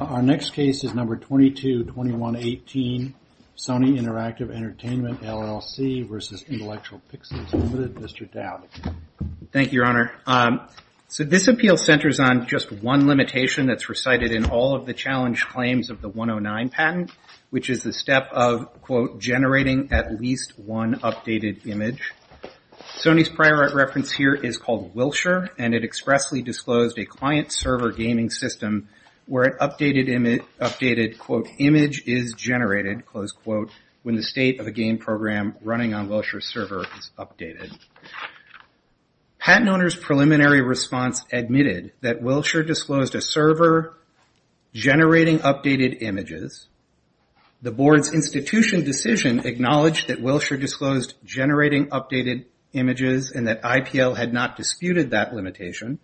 Our next case is number 222118 Sony Interactive Entertainment LLC versus Intellectual Pixels Limited. Mr. Dowd. Thank you your honor. So this appeal centers on just one limitation that's recited in all of the challenge claims of the 109 patent which is the step of quote generating at least one updated image. Sony's prior reference here is called Wilshire and it expressly disclosed a client server gaming system where it updated image updated quote image is generated close quote when the state of a game program running on Wilshire server is updated. Patent owners preliminary response admitted that Wilshire disclosed a server generating updated images. The board's institution decision acknowledged that Wilshire disclosed generating updated images and that IPL had not disputed that limitation.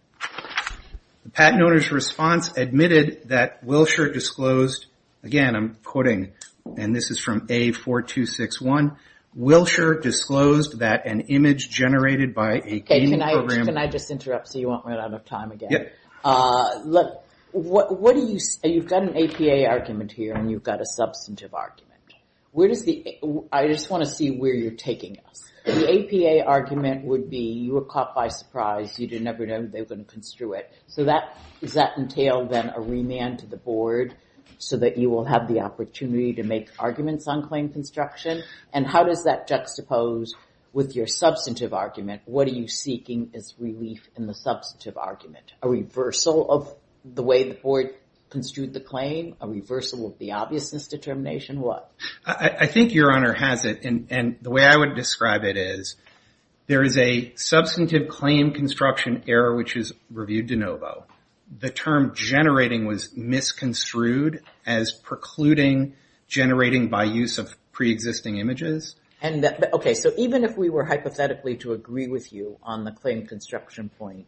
The patent owner's response admitted that Wilshire disclosed again I'm quoting and this is from A4261 Wilshire disclosed that an image generated by a game program. Can I just interrupt so you won't run out of time again. Look what do you say you've got an APA argument here and you've got a substantive argument. Where does the I just want to see where you're taking us. The APA argument would be you were caught by surprise. You didn't ever know they were going to construe it. So that does that entail then a remand to the board so that you will have the opportunity to make arguments on claim construction. And how does that juxtapose with your substantive argument. What are you seeking is relief in the substantive argument. A reversal of the way the board construed the claim. A reversal of the obviousness determination. What I think your honor has it. And the way I would describe it is there is a substantive claim construction error which is reviewed de novo. The term generating was misconstrued as precluding generating by use of pre-existing images. And OK so even if we were hypothetically to agree with you on the claim construction point.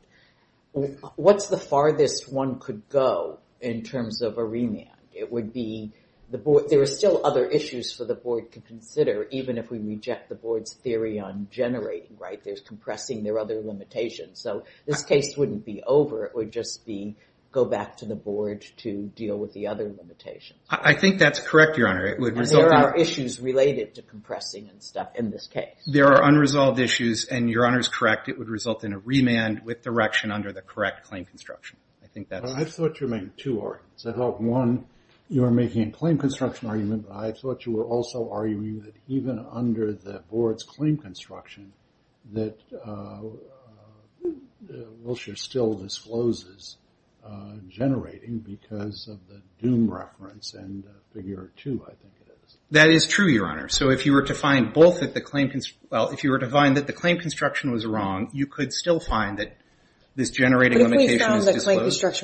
What's the farthest one could go in terms of a remand. It would be the board. There are still other issues for the board to consider even if we reject the board's theory on generating. Right. There's compressing their other limitations. So this case wouldn't be over. It would just be go back to the board to deal with the other limitations. I think that's correct your honor. It would result in issues related to compressing and stuff in this case. There are unresolved issues and your honor is correct. It would result in a remand with direction under the correct claim construction. I think that's what you mean. Two or one you are making a claim construction argument. I thought you were also arguing that even under the board's claim construction that Wilshire still discloses generating because of the doom reference and figure two. I think that is true your honor. So if you were to find both at the claim. Well if you were to find that the claim construction was wrong you could still find that this generating limitation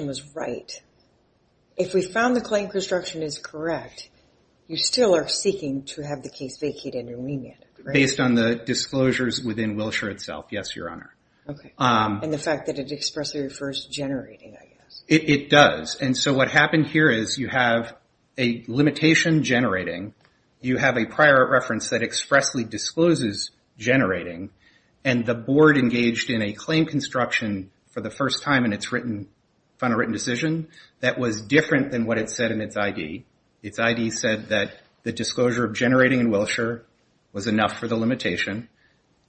was right. If we found the claim construction is correct you still are seeking to have the case vacated and remanded. Based on the disclosures within Wilshire itself. Yes your honor. And the fact that it expressly refers to generating. It does. And so what happened here is you have a limitation generating. You have a prior reference that expressly discloses generating and the board engaged in a claim construction for the first time in its final written decision that was different than what it said in its ID. Its ID said that the disclosure of generating in Wilshire was enough for the limitation.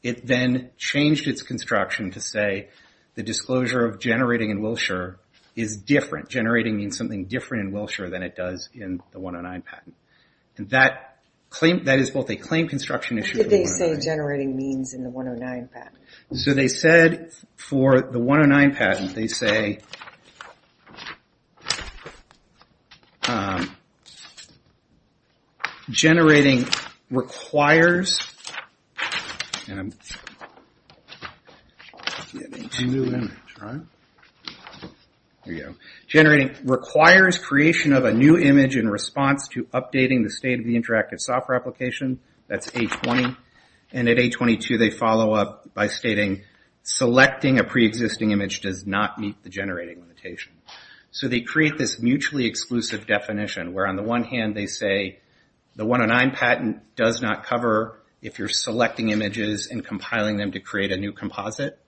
It then changed its construction to say the disclosure of generating in Wilshire is different. Generating means something different in Wilshire than it does in the 109 patent. That is both a claim construction issue. What did they say generating means in the 109 patent? So they said for the 109 patent they say generating requires. Generating requires creation of a new image in response to updating the state of the interactive software application. That is 820. And at 822 they follow up by stating selecting a preexisting image does not meet the generating limitation. So they create this mutually exclusive definition where on the one hand they say the 109 patent does not cover if you're selecting images and compiling them to create a new composite.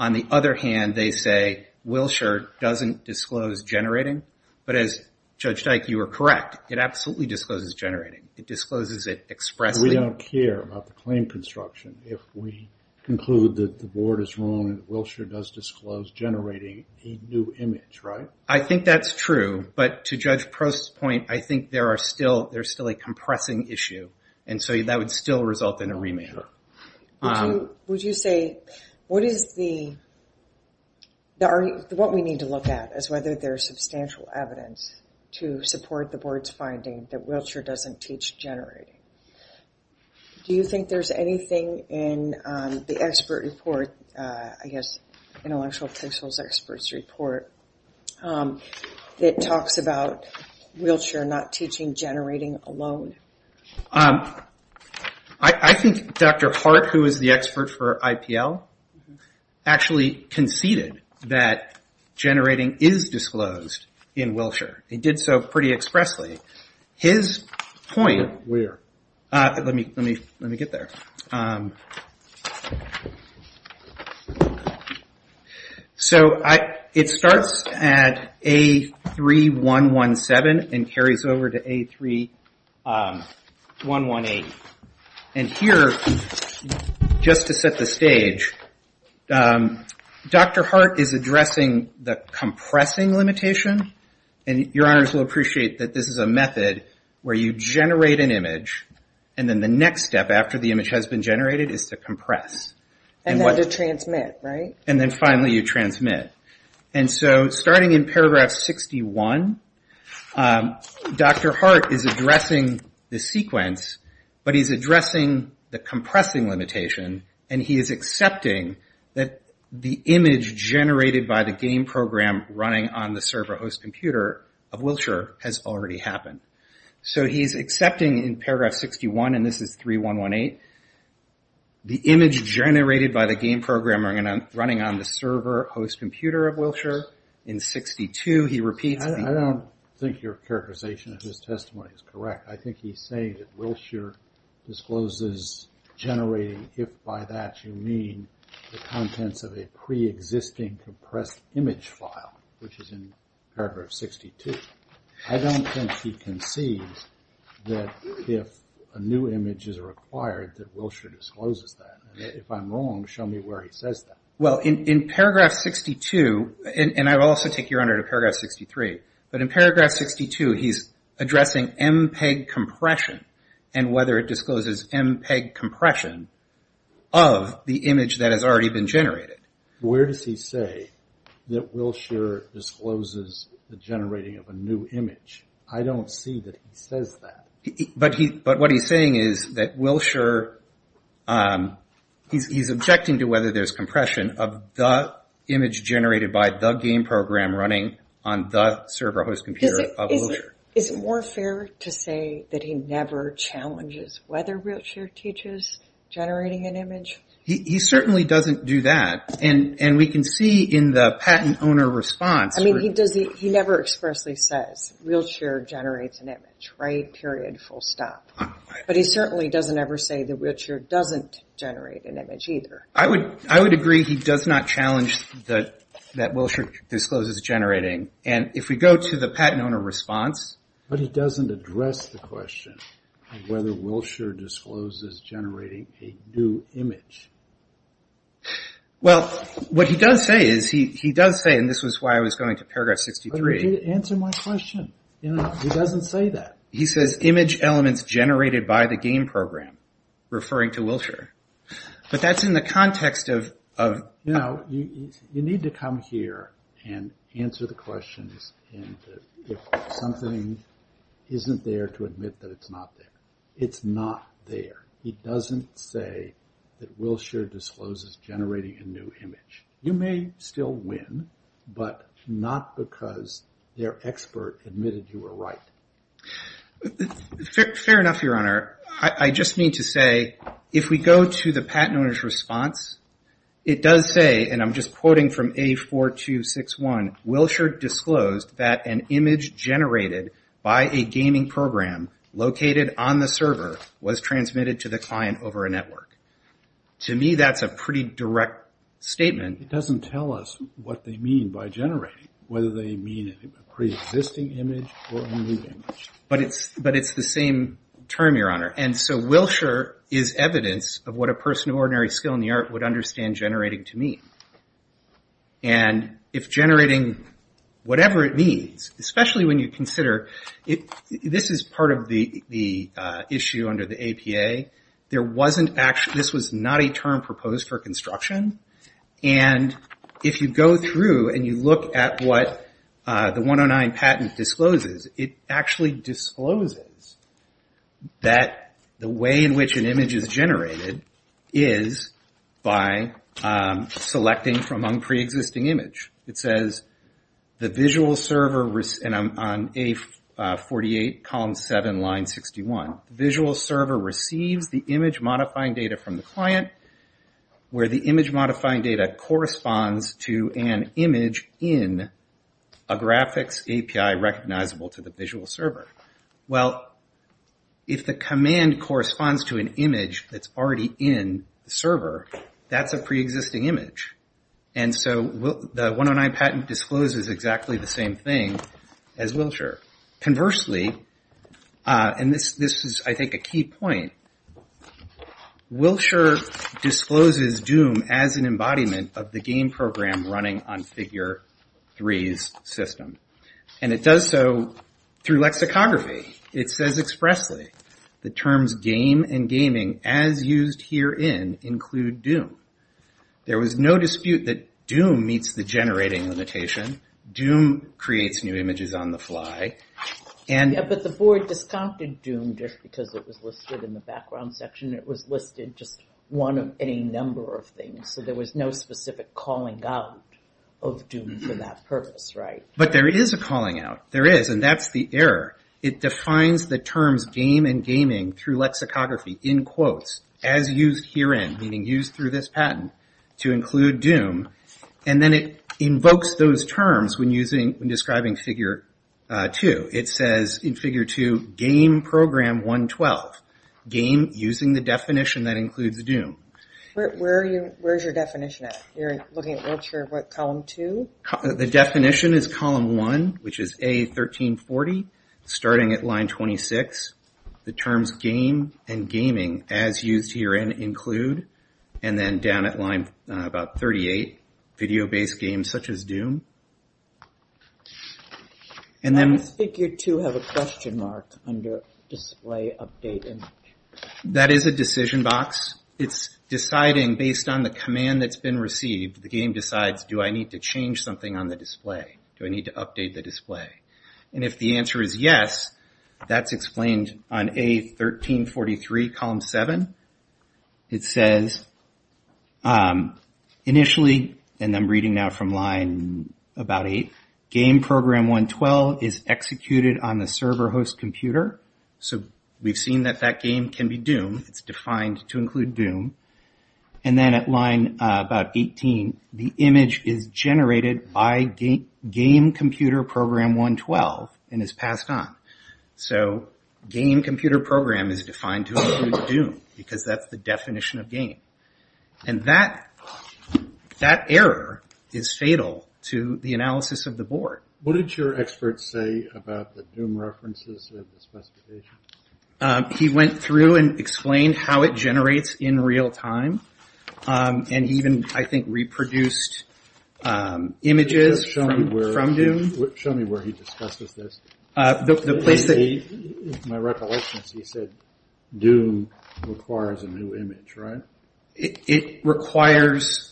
On the other hand they say Wilshire doesn't disclose generating. But as Judge Dyke you are correct it absolutely discloses generating. It discloses it expressly. We don't care about the claim construction if we conclude that the board is wrong and Wilshire does disclose generating a new image, right? I think that's true. But to Judge Post's point I think there are still, there's still a compressing issue. And so that would still result in a remand. Would you say, what is the, what we need to look at is whether there's substantial evidence to support the board's finding that Wilshire doesn't teach generating. Do you think there's anything in the expert report, I guess intellectual officials experts report that talks about Wilshire not teaching generating alone? I think Dr. Hart who is the expert for IPL actually conceded that generating is disclosed in Wilshire. It did so pretty expressly. His point, let me get there. So it starts at A3117 and carries over to A3118. And here just to set the stage, Dr. Hart is addressing the compressing limitation. And your honors will appreciate that this is a method where you generate an image and then the next step after the image has been generated is to compress. And then to transmit, right? And then finally you transmit. And so starting in paragraph 61, Dr. Hart is addressing the sequence, but he's addressing the compressing limitation and he is accepting that the image generated by the game program running on the server host computer of Wilshire has already happened. So he's saying that the image generated by the game program running on the server host computer of Wilshire in 62, he repeats. I don't think your characterization of his testimony is correct. I think he's saying that Wilshire discloses generating if by that you mean the generating of a new image. I don't see that he says that. But what he's saying is that Wilshire, he's objecting to whether there's compression of the image generated by the game program running on the server host computer of Wilshire. Is it more fair to say that he never challenges whether wheelchair teaches generating an image? He certainly doesn't do that. And we can see in the patent owner response. I mean he never expressly says wheelchair generates an image, right, period, full stop. But he certainly doesn't ever say that wheelchair doesn't generate an image either. I would agree he does not challenge that Wilshire discloses generating. And if we go to the patent owner response. But he doesn't address the question of whether Wilshire discloses generating a new image. Well, what he does say is, he does say, and this is why I was going to paragraph 63. Answer my question. He doesn't say that. He says image elements generated by the game program, referring to Wilshire. But that's in the context of. You know, you need to come here and answer the questions if something isn't there to admit that it's not there. It's not there. He doesn't say that Wilshire discloses generating a new image. You may still win, but not because their expert admitted you were right. Fair enough, Your Honor. I just need to say, if we go to the patent owner's response, it does say, and I'm just quoting from A4261, Wilshire disclosed that an image generated by a gaming program located on the server was transmitted to the client over a network. To me, that's a pretty direct statement. It doesn't tell us what they mean by generating, whether they mean a pre-existing image or a new image. But it's the same term, Your Honor. And so Wilshire is evidence of what a person of ordinary skill in the art would understand generating to mean. And if generating whatever it means, especially when you consider, this is part of the issue under the APA. This was not a term proposed for construction. And if you go through and you look at what the 109 patent discloses, it actually discloses that the way in which an image is generated is by selecting from a pre-existing image. It says, the visual server, and I'm on A48, column 7, line 61. Visual server receives the image modifying data from the client, where the image modifying data corresponds to an image in a graphics API recognizable to the visual server. Well, if the command corresponds to an image that's already in the server, that's a pre-existing image. And so the 109 patent discloses exactly the same thing as Wilshire. Conversely, and this is I think a key point, Wilshire discloses Doom as an embodiment of the game program running on Figure 3's system. And it does so through lexicography. It says expressly, the terms game and gaming as used herein include Doom. There was no dispute that Doom meets the generating limitation. Doom creates new images on the fly. But there is a calling out. There is, and that's the error. It defines the terms game and gaming through lexicography, in quotes, as used herein, meaning used through this patent, to include Doom. And then it invokes those terms when describing Figure 2. It says in Figure 2, game program 112, game using the definition that includes Doom. Where's your definition at? You're looking at Wilshire, what, column 2? The definition is column 1, which is A1340, starting at line 26. The terms game and gaming as used herein include, and then down at line about 38, video-based games such as Doom. Does Figure 2 have a question mark under display update image? That is a decision box. It's deciding based on the command that's been received. The game decides, do I need to change something on the display? Do I need to update the display? And if the answer is yes, that's explained on A1343, column 7. It says, initially, and I'm reading now from line about 8, game program 112 is executed on the server host computer. So we've seen that that game can be Doom. It's defined to include Doom. And then at line about 18, the image is generated by game computer program 112 and is passed on. So game computer program is defined to include Doom, because that's the definition of game. And that error is fatal to the analysis of the board. What did your expert say about the Doom references and the specifications? He went through and explained how it generates in real time. And he even, I think, reproduced images from Doom. Show me where he discusses this. My recollection is he said Doom requires a new image, right? It requires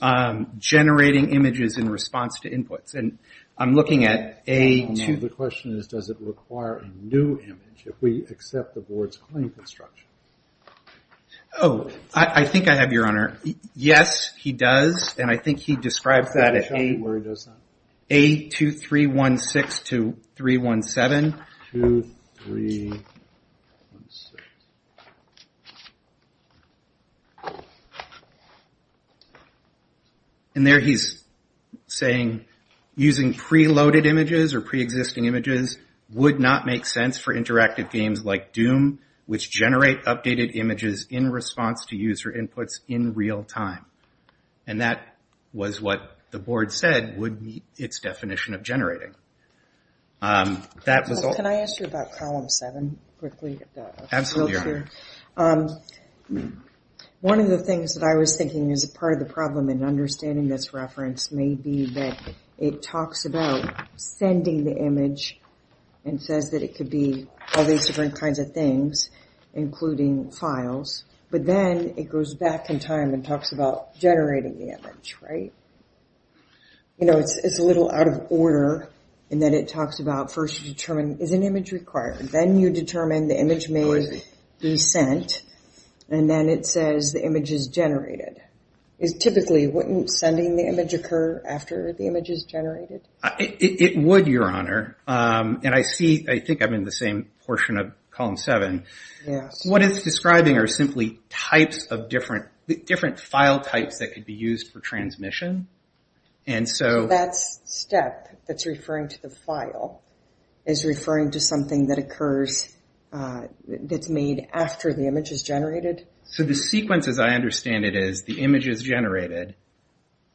generating images in response to inputs. The question is, does it require a new image if we accept the board's claim construction? Oh, I think I have your honor. Yes, he does. And I think he describes that at 82316 to 317. And there he's saying, using preloaded images or preexisting images would not make sense for interactive games like Doom, which generate updated images in response to user inputs in real time. And that was what the board said would meet its definition of generating. Can I ask you about Column 7 quickly? One of the things that I was thinking as part of the problem in understanding this reference may be that it talks about sending the image and says that it could be all these different kinds of things, including files. But then it goes back in time and talks about generating the image, right? You know, it's a little out of order. And then it talks about first you determine, is an image required? And then you determine the image may be sent. And then it says the image is generated. Typically, wouldn't sending the image occur after the image is generated? It would, your honor. And I see I think I'm in the same portion of Column 7. What it's describing are simply types of different file types that could be used for transmission. So that step that's referring to the file is referring to something that occurs, that's made after the image is generated? So the sequence, as I understand it, is the image is generated.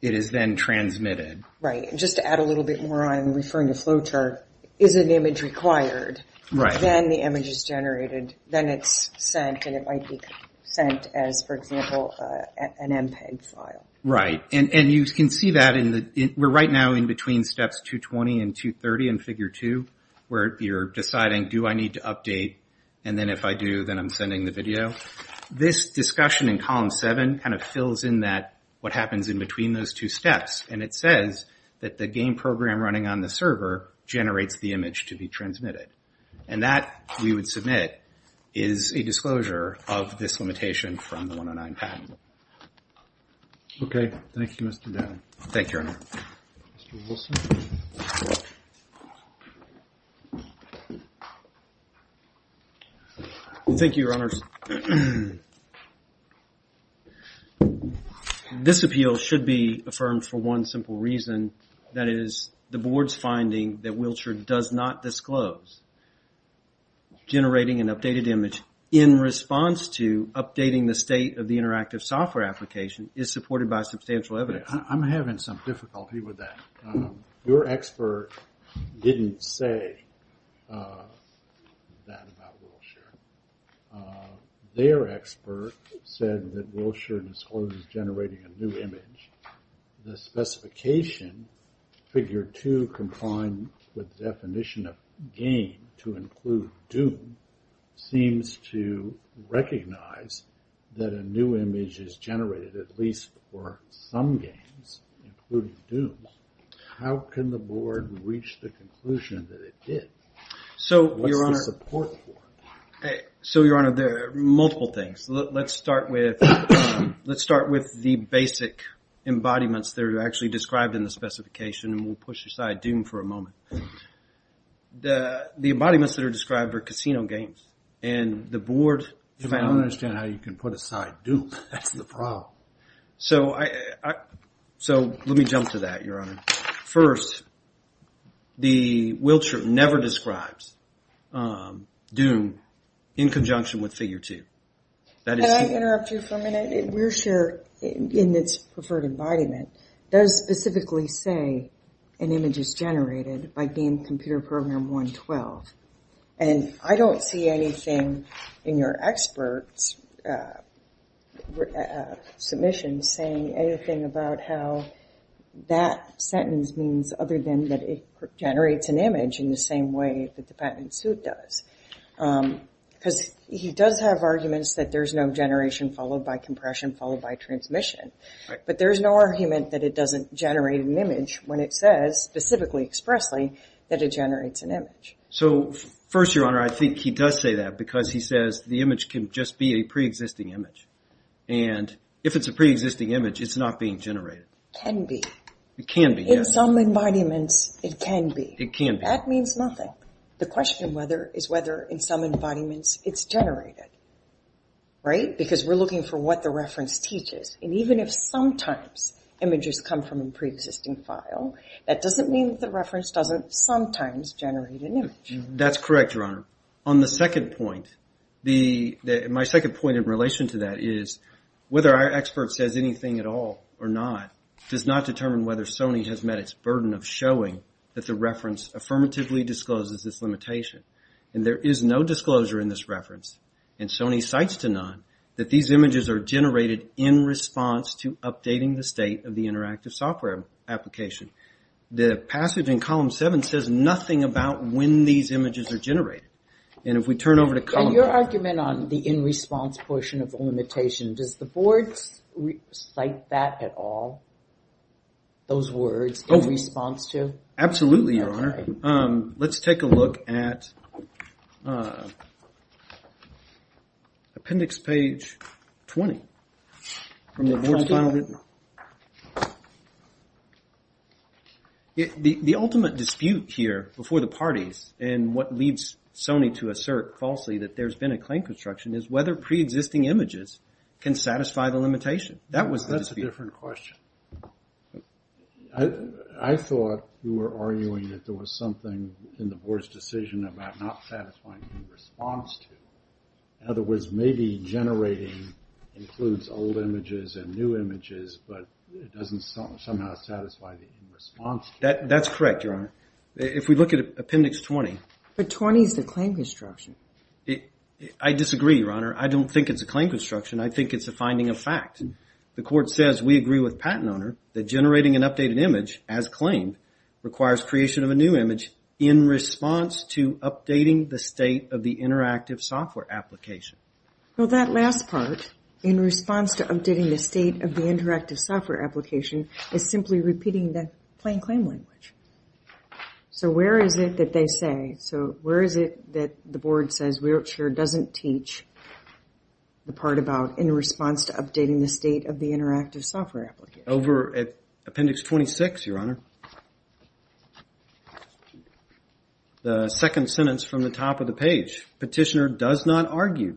It is then transmitted. Right. And just to add a little bit more, I'm referring to flowchart. Is an image required? Then the image is generated. Then it's sent and it might be sent as, for example, an MPEG file. Right. And you can see that we're right now in between Steps 220 and 230 in Figure 2, where you're deciding, do I need to update? And then if I do, then I'm sending the video. This discussion in Column 7 kind of fills in that, what happens in between those two steps. And it says that the game program running on the server generates the image to be transmitted. And that, we would submit, is a disclosure of this limitation from the 109 patent. Okay. Thank you, Mr. Dan. Thank you, Your Honor. Thank you, Your Honors. This appeal should be affirmed for one simple reason. That is, the board's finding that Wilshire does not disclose generating an updated image in response to updating the state of the interactive software application is supported by substantial evidence. I'm having some difficulty with that. Your expert didn't say that about Wilshire. Their expert said that Wilshire discloses generating a new image. The specification, Figure 2, confined with definition of game to include Doom, seems to recognize that a new image is generated, at least for some games, including Doom. How can the board reach the conclusion that it did? What's the support for? So, Your Honor, there are multiple things. Let's start with the basic embodiments that are actually described in the specification. And we'll push aside Doom for a moment. The embodiments that are described are casino games. And the board... I don't understand how you can put aside Doom. That's the problem. So, let me jump to that, Your Honor. First, Wilshire never describes Doom in conjunction with Figure 2. Can I interrupt you for a minute? Wilshire, in its preferred embodiment, does specifically say an image is generated by game computer program 112. And I don't see anything in your expert's submission saying anything about how that sentence means other than that it generates an image in the same way that the patent suit does. Because he does have arguments that there's no generation followed by compression followed by transmission. But there's no argument that it doesn't generate an image when it says, specifically, expressly, that it generates an image. So, first, Your Honor, I think he does say that because he says the image can just be a pre-existing image. And if it's a pre-existing image, it's not being generated. It can be. It can be, yes. In some embodiments, it can be. It can be. That means nothing. The question is whether in some embodiments it's generated. Right? Because we're looking for what the reference teaches. And even if sometimes images come from a pre-existing file, that doesn't mean that the reference doesn't sometimes generate an image. That's correct, Your Honor. On the second point, my second point in relation to that is whether our expert says anything at all or not, does not determine whether Sony has met its burden of showing that the reference affirmatively discloses this limitation. And there is no disclosure in this reference. And Sony cites to none that these images are generated in response to updating the state of the interactive software application. The passage in Column 7 says nothing about when these images are generated. And if we turn over to Column 8... And your argument on the in-response portion of the limitation, does the Board cite that at all? Those words, in response to? Absolutely, Your Honor. Let's take a look at appendix page 20 from the Board's final written. The ultimate dispute here before the parties and what leads Sony to assert falsely that there's been a claim construction is whether pre-existing images can satisfy the limitation. That was the dispute. That's a different question. I thought you were arguing that there was something in the Board's decision about not satisfying the in-response to. In other words, maybe generating includes old images and new images, but it doesn't somehow satisfy the in-response to. That's correct, Your Honor. If we look at appendix 20... But 20 is the claim construction. I disagree, Your Honor. I don't think it's a claim construction. I think it's a finding of fact. The Court says we agree with Patent Owner that generating an updated image, as claimed, requires creation of a new image in response to updating the state of the interactive software application. Well, that last part, in response to updating the state of the interactive software application, is simply repeating the plain saying. So where is it that the Board says Wheelchair doesn't teach the part about in response to updating the state of the interactive software application? Over at appendix 26, Your Honor. The second sentence from the top of the page. Petitioner does not argue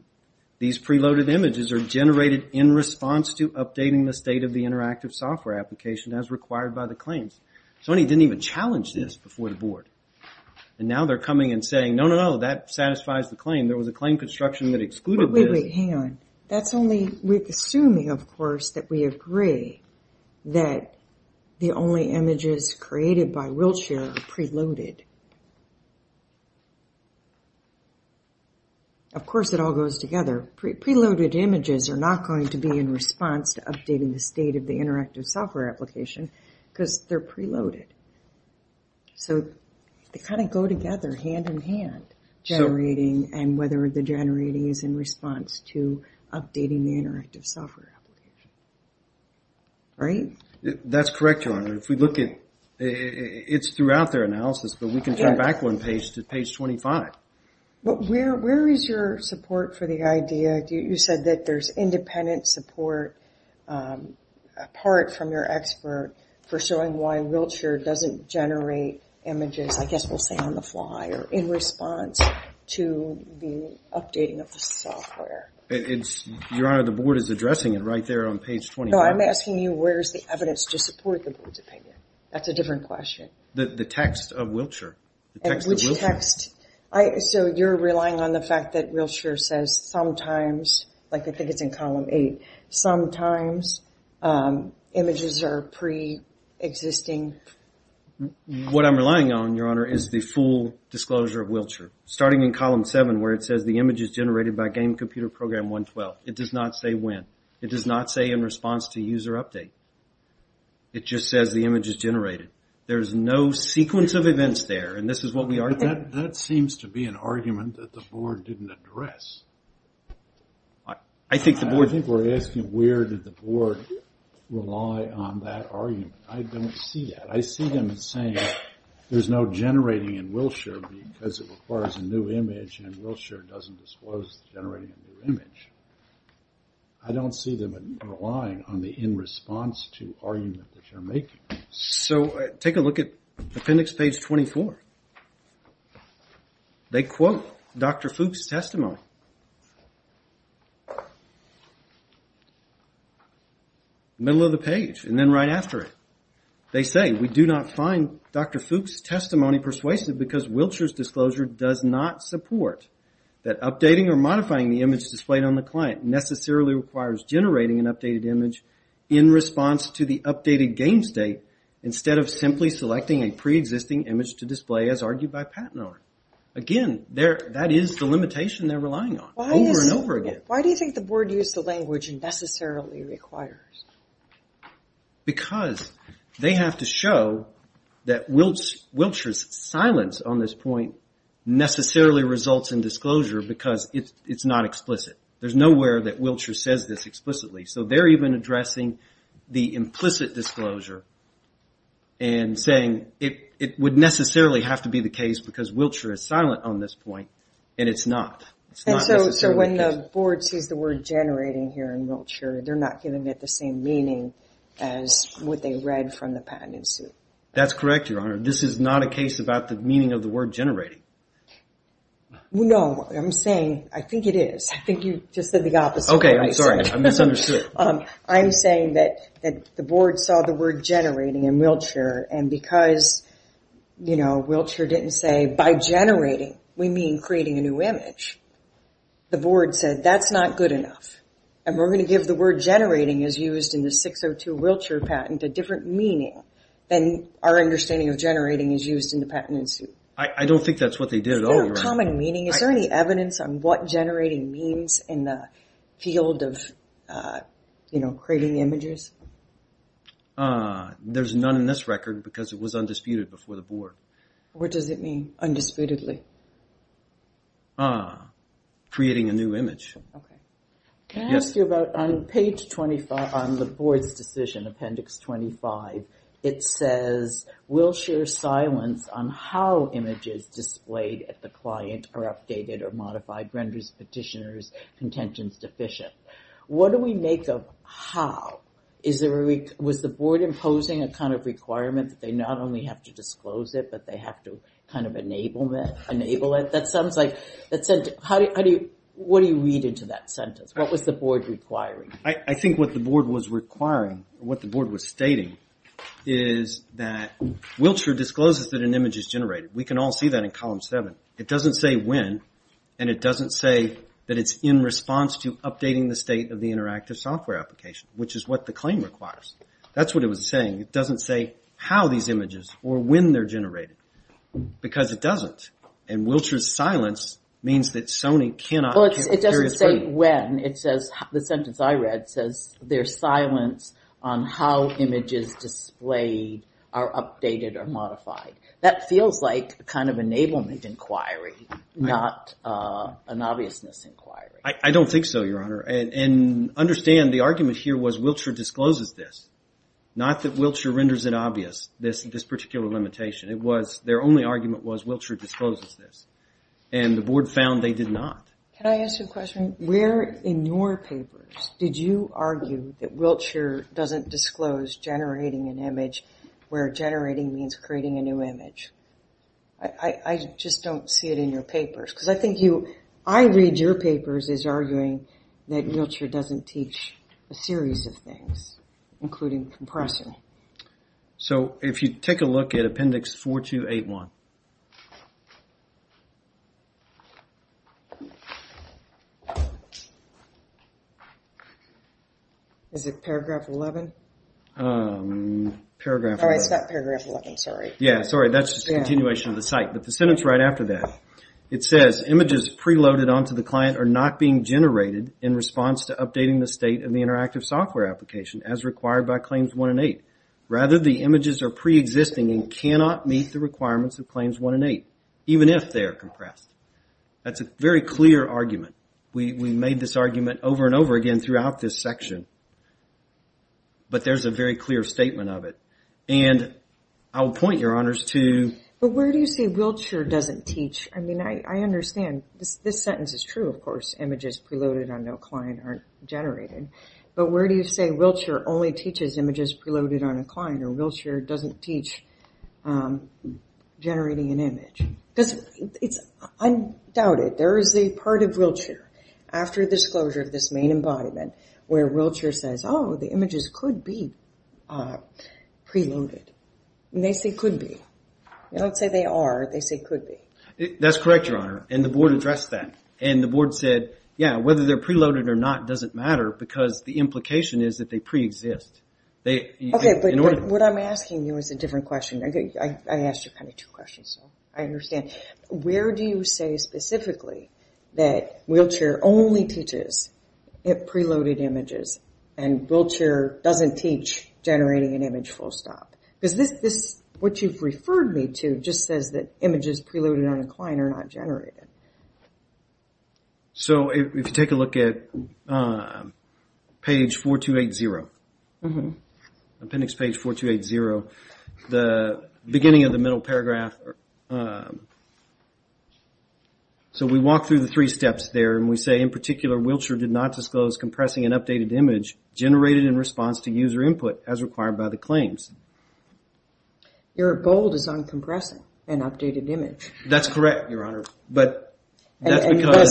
these pre-loaded images are generated in response to updating the state of the interactive software application as required by the claims. Sony didn't even challenge this before the Board. And now they're coming and saying, no, no, no, that satisfies the claim. There was a claim construction that excluded this. Wait, wait, hang on. That's only... We're assuming, of course, that we agree that the only images created by Wheelchair are pre-loaded. Of course, it all goes together. Pre-loaded images are not going to be in response to updating the state of the interactive software application because they're pre-loaded. So they kind of go together, hand-in-hand, generating and whether the generating is in response to updating the interactive software application. Right? That's correct, Your Honor. If we look at... It's throughout their analysis, but we can turn back one page to page 25. But where is your support for the idea? You said that there's independent support apart from your expert for showing why Wheelchair doesn't generate images, I guess we'll say on the fly, or in response to the updating of the software. It's... Your Honor, the Board is addressing it right there on page 25. No, I'm asking you where's the evidence to support the Board's opinion. That's a different question. The text of Wheelchair. The text of Wheelchair. And which text? So you're relying on the fact that images are pre-existing? What I'm relying on, Your Honor, is the full disclosure of Wheelchair. Starting in column 7, where it says the image is generated by Game Computer Program 112. It does not say when. It does not say in response to user update. It just says the image is generated. There's no sequence of events there, and this is what we are... But that seems to be an argument that the Board didn't address. I think the Board... I think we're asking where did the Board rely on that argument. I don't see that. I see them saying there's no generating in Wheelchair because it requires a new image, and Wheelchair doesn't disclose generating a new image. I don't see them relying on the in response to argument that you're making. So take a look at appendix page 24. They quote Dr. Fuchs' testimony. Middle of the page, and then right after it. They say, we do not find Dr. Fuchs' testimony persuasive because Wheelchair's disclosure does not support that updating or modifying the image displayed on the client necessarily requires generating an updated image in response to the updated game state, instead of simply selecting a pre-existing image to display as argued by Pat and Oren. Again, that is the argument. Why do you think the Board used the language necessarily requires? Because they have to show that Wheelchair's silence on this point necessarily results in disclosure because it's not explicit. There's nowhere that Wheelchair says this explicitly. So they're even addressing the implicit disclosure and saying it would necessarily have to be the case because Wheelchair is silent on this point, and it's not. And so when the Board sees the word generating here in Wheelchair, they're not giving it the same meaning as what they read from the patent in suit. That's correct, Your Honor. This is not a case about the meaning of the word generating. No, I'm saying, I think it is. I think you just said the opposite. Okay, I'm sorry. I misunderstood. I'm saying that the Board saw the word generating in Wheelchair, and because Wheelchair didn't say by generating we mean creating a new image, the Board said that's not good enough. And we're going to give the word generating as used in the 602 Wheelchair patent a different meaning than our understanding of generating as used in the patent in suit. I don't think that's what they did at all. Is there a common meaning? Is there any evidence on what generating means in the field of creating images? There's none in this record because it was undisputed before the Board. What does it mean, undisputedly? Ah, creating a new image. Can I ask you about on page 25 on the Board's decision, appendix 25, it says, Wheelchair's silence on how images displayed at the client are generated. Is there a, was the Board imposing a kind of requirement that they not only have to disclose it, but they have to kind of enable it? That sounds like, what do you read into that sentence? What was the Board requiring? I think what the Board was requiring, what the Board was stating is that Wheelchair discloses that an image is generated. We can all see that in column 7. It doesn't say when, and it doesn't say that it's in response to updating the state of the interactive software application, which is what the claim requires. That's what it was saying. It doesn't say how these images, or when they're generated, because it doesn't. And Wheelchair's silence means that Sony cannot carry this burden. Well, it doesn't say when. It says, the sentence I read says, there's silence on how images displayed are updated or generated. I don't think so, Your Honor. And understand, the argument here was, Wheelchair discloses this. Not that Wheelchair renders it obvious, this particular limitation. It was, their only argument was, Wheelchair discloses this. And the Board found they did not. Can I ask you a question? Where in your papers did you argue that Wheelchair doesn't disclose generating an image where generating means creating a new image? I just don't see it in your papers. Because I think you, I read your papers as arguing that Wheelchair doesn't teach a series of things, including compressing. So, if you take a look at appendix 4281. Is it paragraph 11? Paragraph 11. Oh, it's not paragraph 11, sorry. Yeah, sorry, that's just a paragraph. It says, images preloaded onto the client are not being generated in response to updating the state of the interactive software application, as required by Claims 1 and 8. Rather, the images are pre-existing and cannot meet the requirements of Claims 1 and 8, even if they are compressed. That's a very clear argument. We made this argument over and over again throughout this section. But there's a very clear statement of it. And I'll point your honors to... But where do you say Wheelchair doesn't teach? I mean, I understand. This sentence is true, of course. Images preloaded on no client aren't generated. But where do you say Wheelchair only teaches images preloaded on a client or Wheelchair doesn't teach generating an image? Because it's, I doubt it. There is a part of Wheelchair, after disclosure of this main embodiment, where Wheelchair says, oh, the images could be preloaded. And they say could be. They don't say they are, they say could be. That's correct, your honor. And the board addressed that. And the board said, yeah, whether they're preloaded or not doesn't matter, because the implication is that they pre-exist. Okay, but what I'm asking you is a different question. I asked you kind of two questions, so I understand. Where do you say specifically that Wheelchair only teaches preloaded images and Wheelchair doesn't teach generating an image full stop? Because this, what you've referred me to, just says that images preloaded on a client are not generated. So if you take a look at page 4280, appendix page 4280, the beginning of the middle paragraph, the beginning of the middle paragraph, the beginning of the middle paragraph. So we walk through the three steps there, and we say, in particular, Wheelchair did not disclose compressing an updated image generated in response to user input as required by the claims. Your bold is on compressing an updated image. That's correct, your honor. But that's because... And the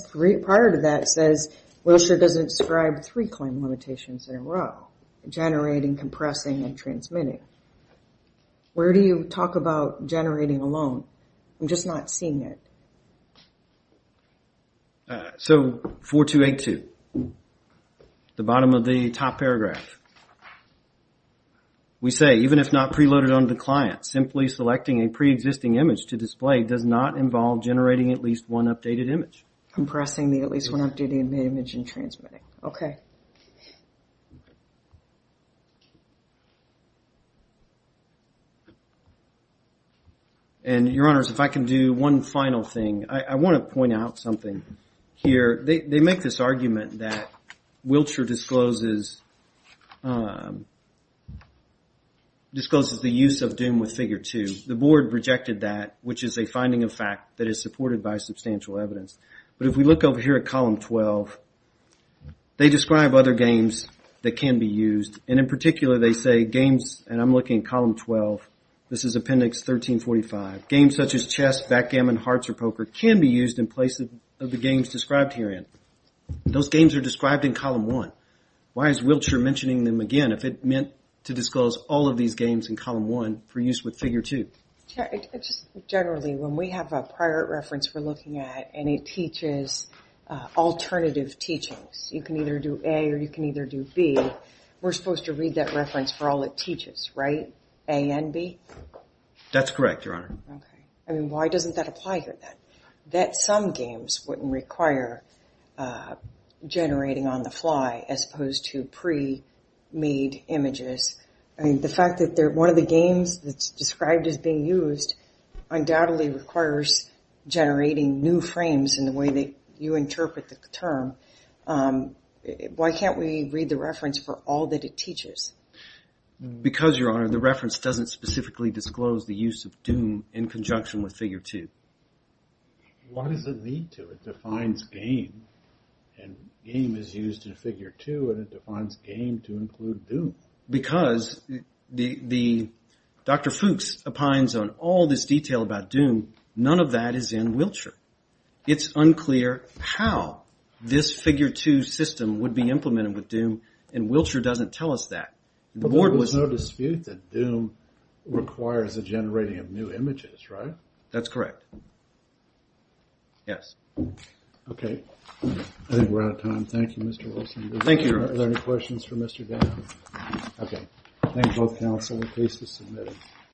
sentence prior to that says, Wheelchair doesn't describe three claim limitations in a row, generating, compressing, and transmitting. Where do you talk about generating alone? I'm just not seeing it. So 4282, the bottom of the top paragraph. We say, even if not preloaded on the client, simply selecting a preexisting image to display does not involve generating at least one updated image. Compressing the at least one updated image and transmitting. Okay. And your honors, if I can do one final thing. I want to point out something here. They make this argument that Wheelchair discloses... Discloses the use of Doom with Figure 2. The board rejected that, which is a finding of fact that is supported by substantial evidence. But if we look over here at column 12, they describe other games that can be used. And in particular, they say games, and I'm looking at column 12. This is appendix 1345. Games such as chess, backgammon, hearts, or poker can be used in place of the games described herein. Those games are described in column one. Why is Wheelchair mentioning them again if it meant to disclose all of these games in column one for use with Figure 2? Generally, when we have a prior reference we're looking at, and it teaches alternative teachings. You can either do A or you can either do B. We're supposed to read that reference for all it teaches, right? A and B? That's correct, your honor. Okay. I mean, why doesn't that apply here then? That some games wouldn't require generating on the fly as opposed to pre-made images. I mean, the fact that one of the games that's described as being used undoubtedly requires generating new frames in the way that you interpret the term. Why can't we read the reference for all that it teaches? Because, your honor, the reference doesn't specifically disclose the use of doom in conjunction with Figure 2. Why does it need to? It defines game, and game is used in Figure 2, and it defines game to include doom. Because Dr. Fuchs opines on all this detail about doom, none of that is in Wheelchair. It's unclear how this Figure 2 system would be implemented with doom, and Wheelchair doesn't tell us that. There's no dispute that doom requires a generating of new images, right? That's correct. Yes. Okay. I think we're out of time. Thank you, Mr. Wilson. Thank you, your honor. Are there any questions for Mr. Gaffney? Okay. Thank both counsel. The case is submitted.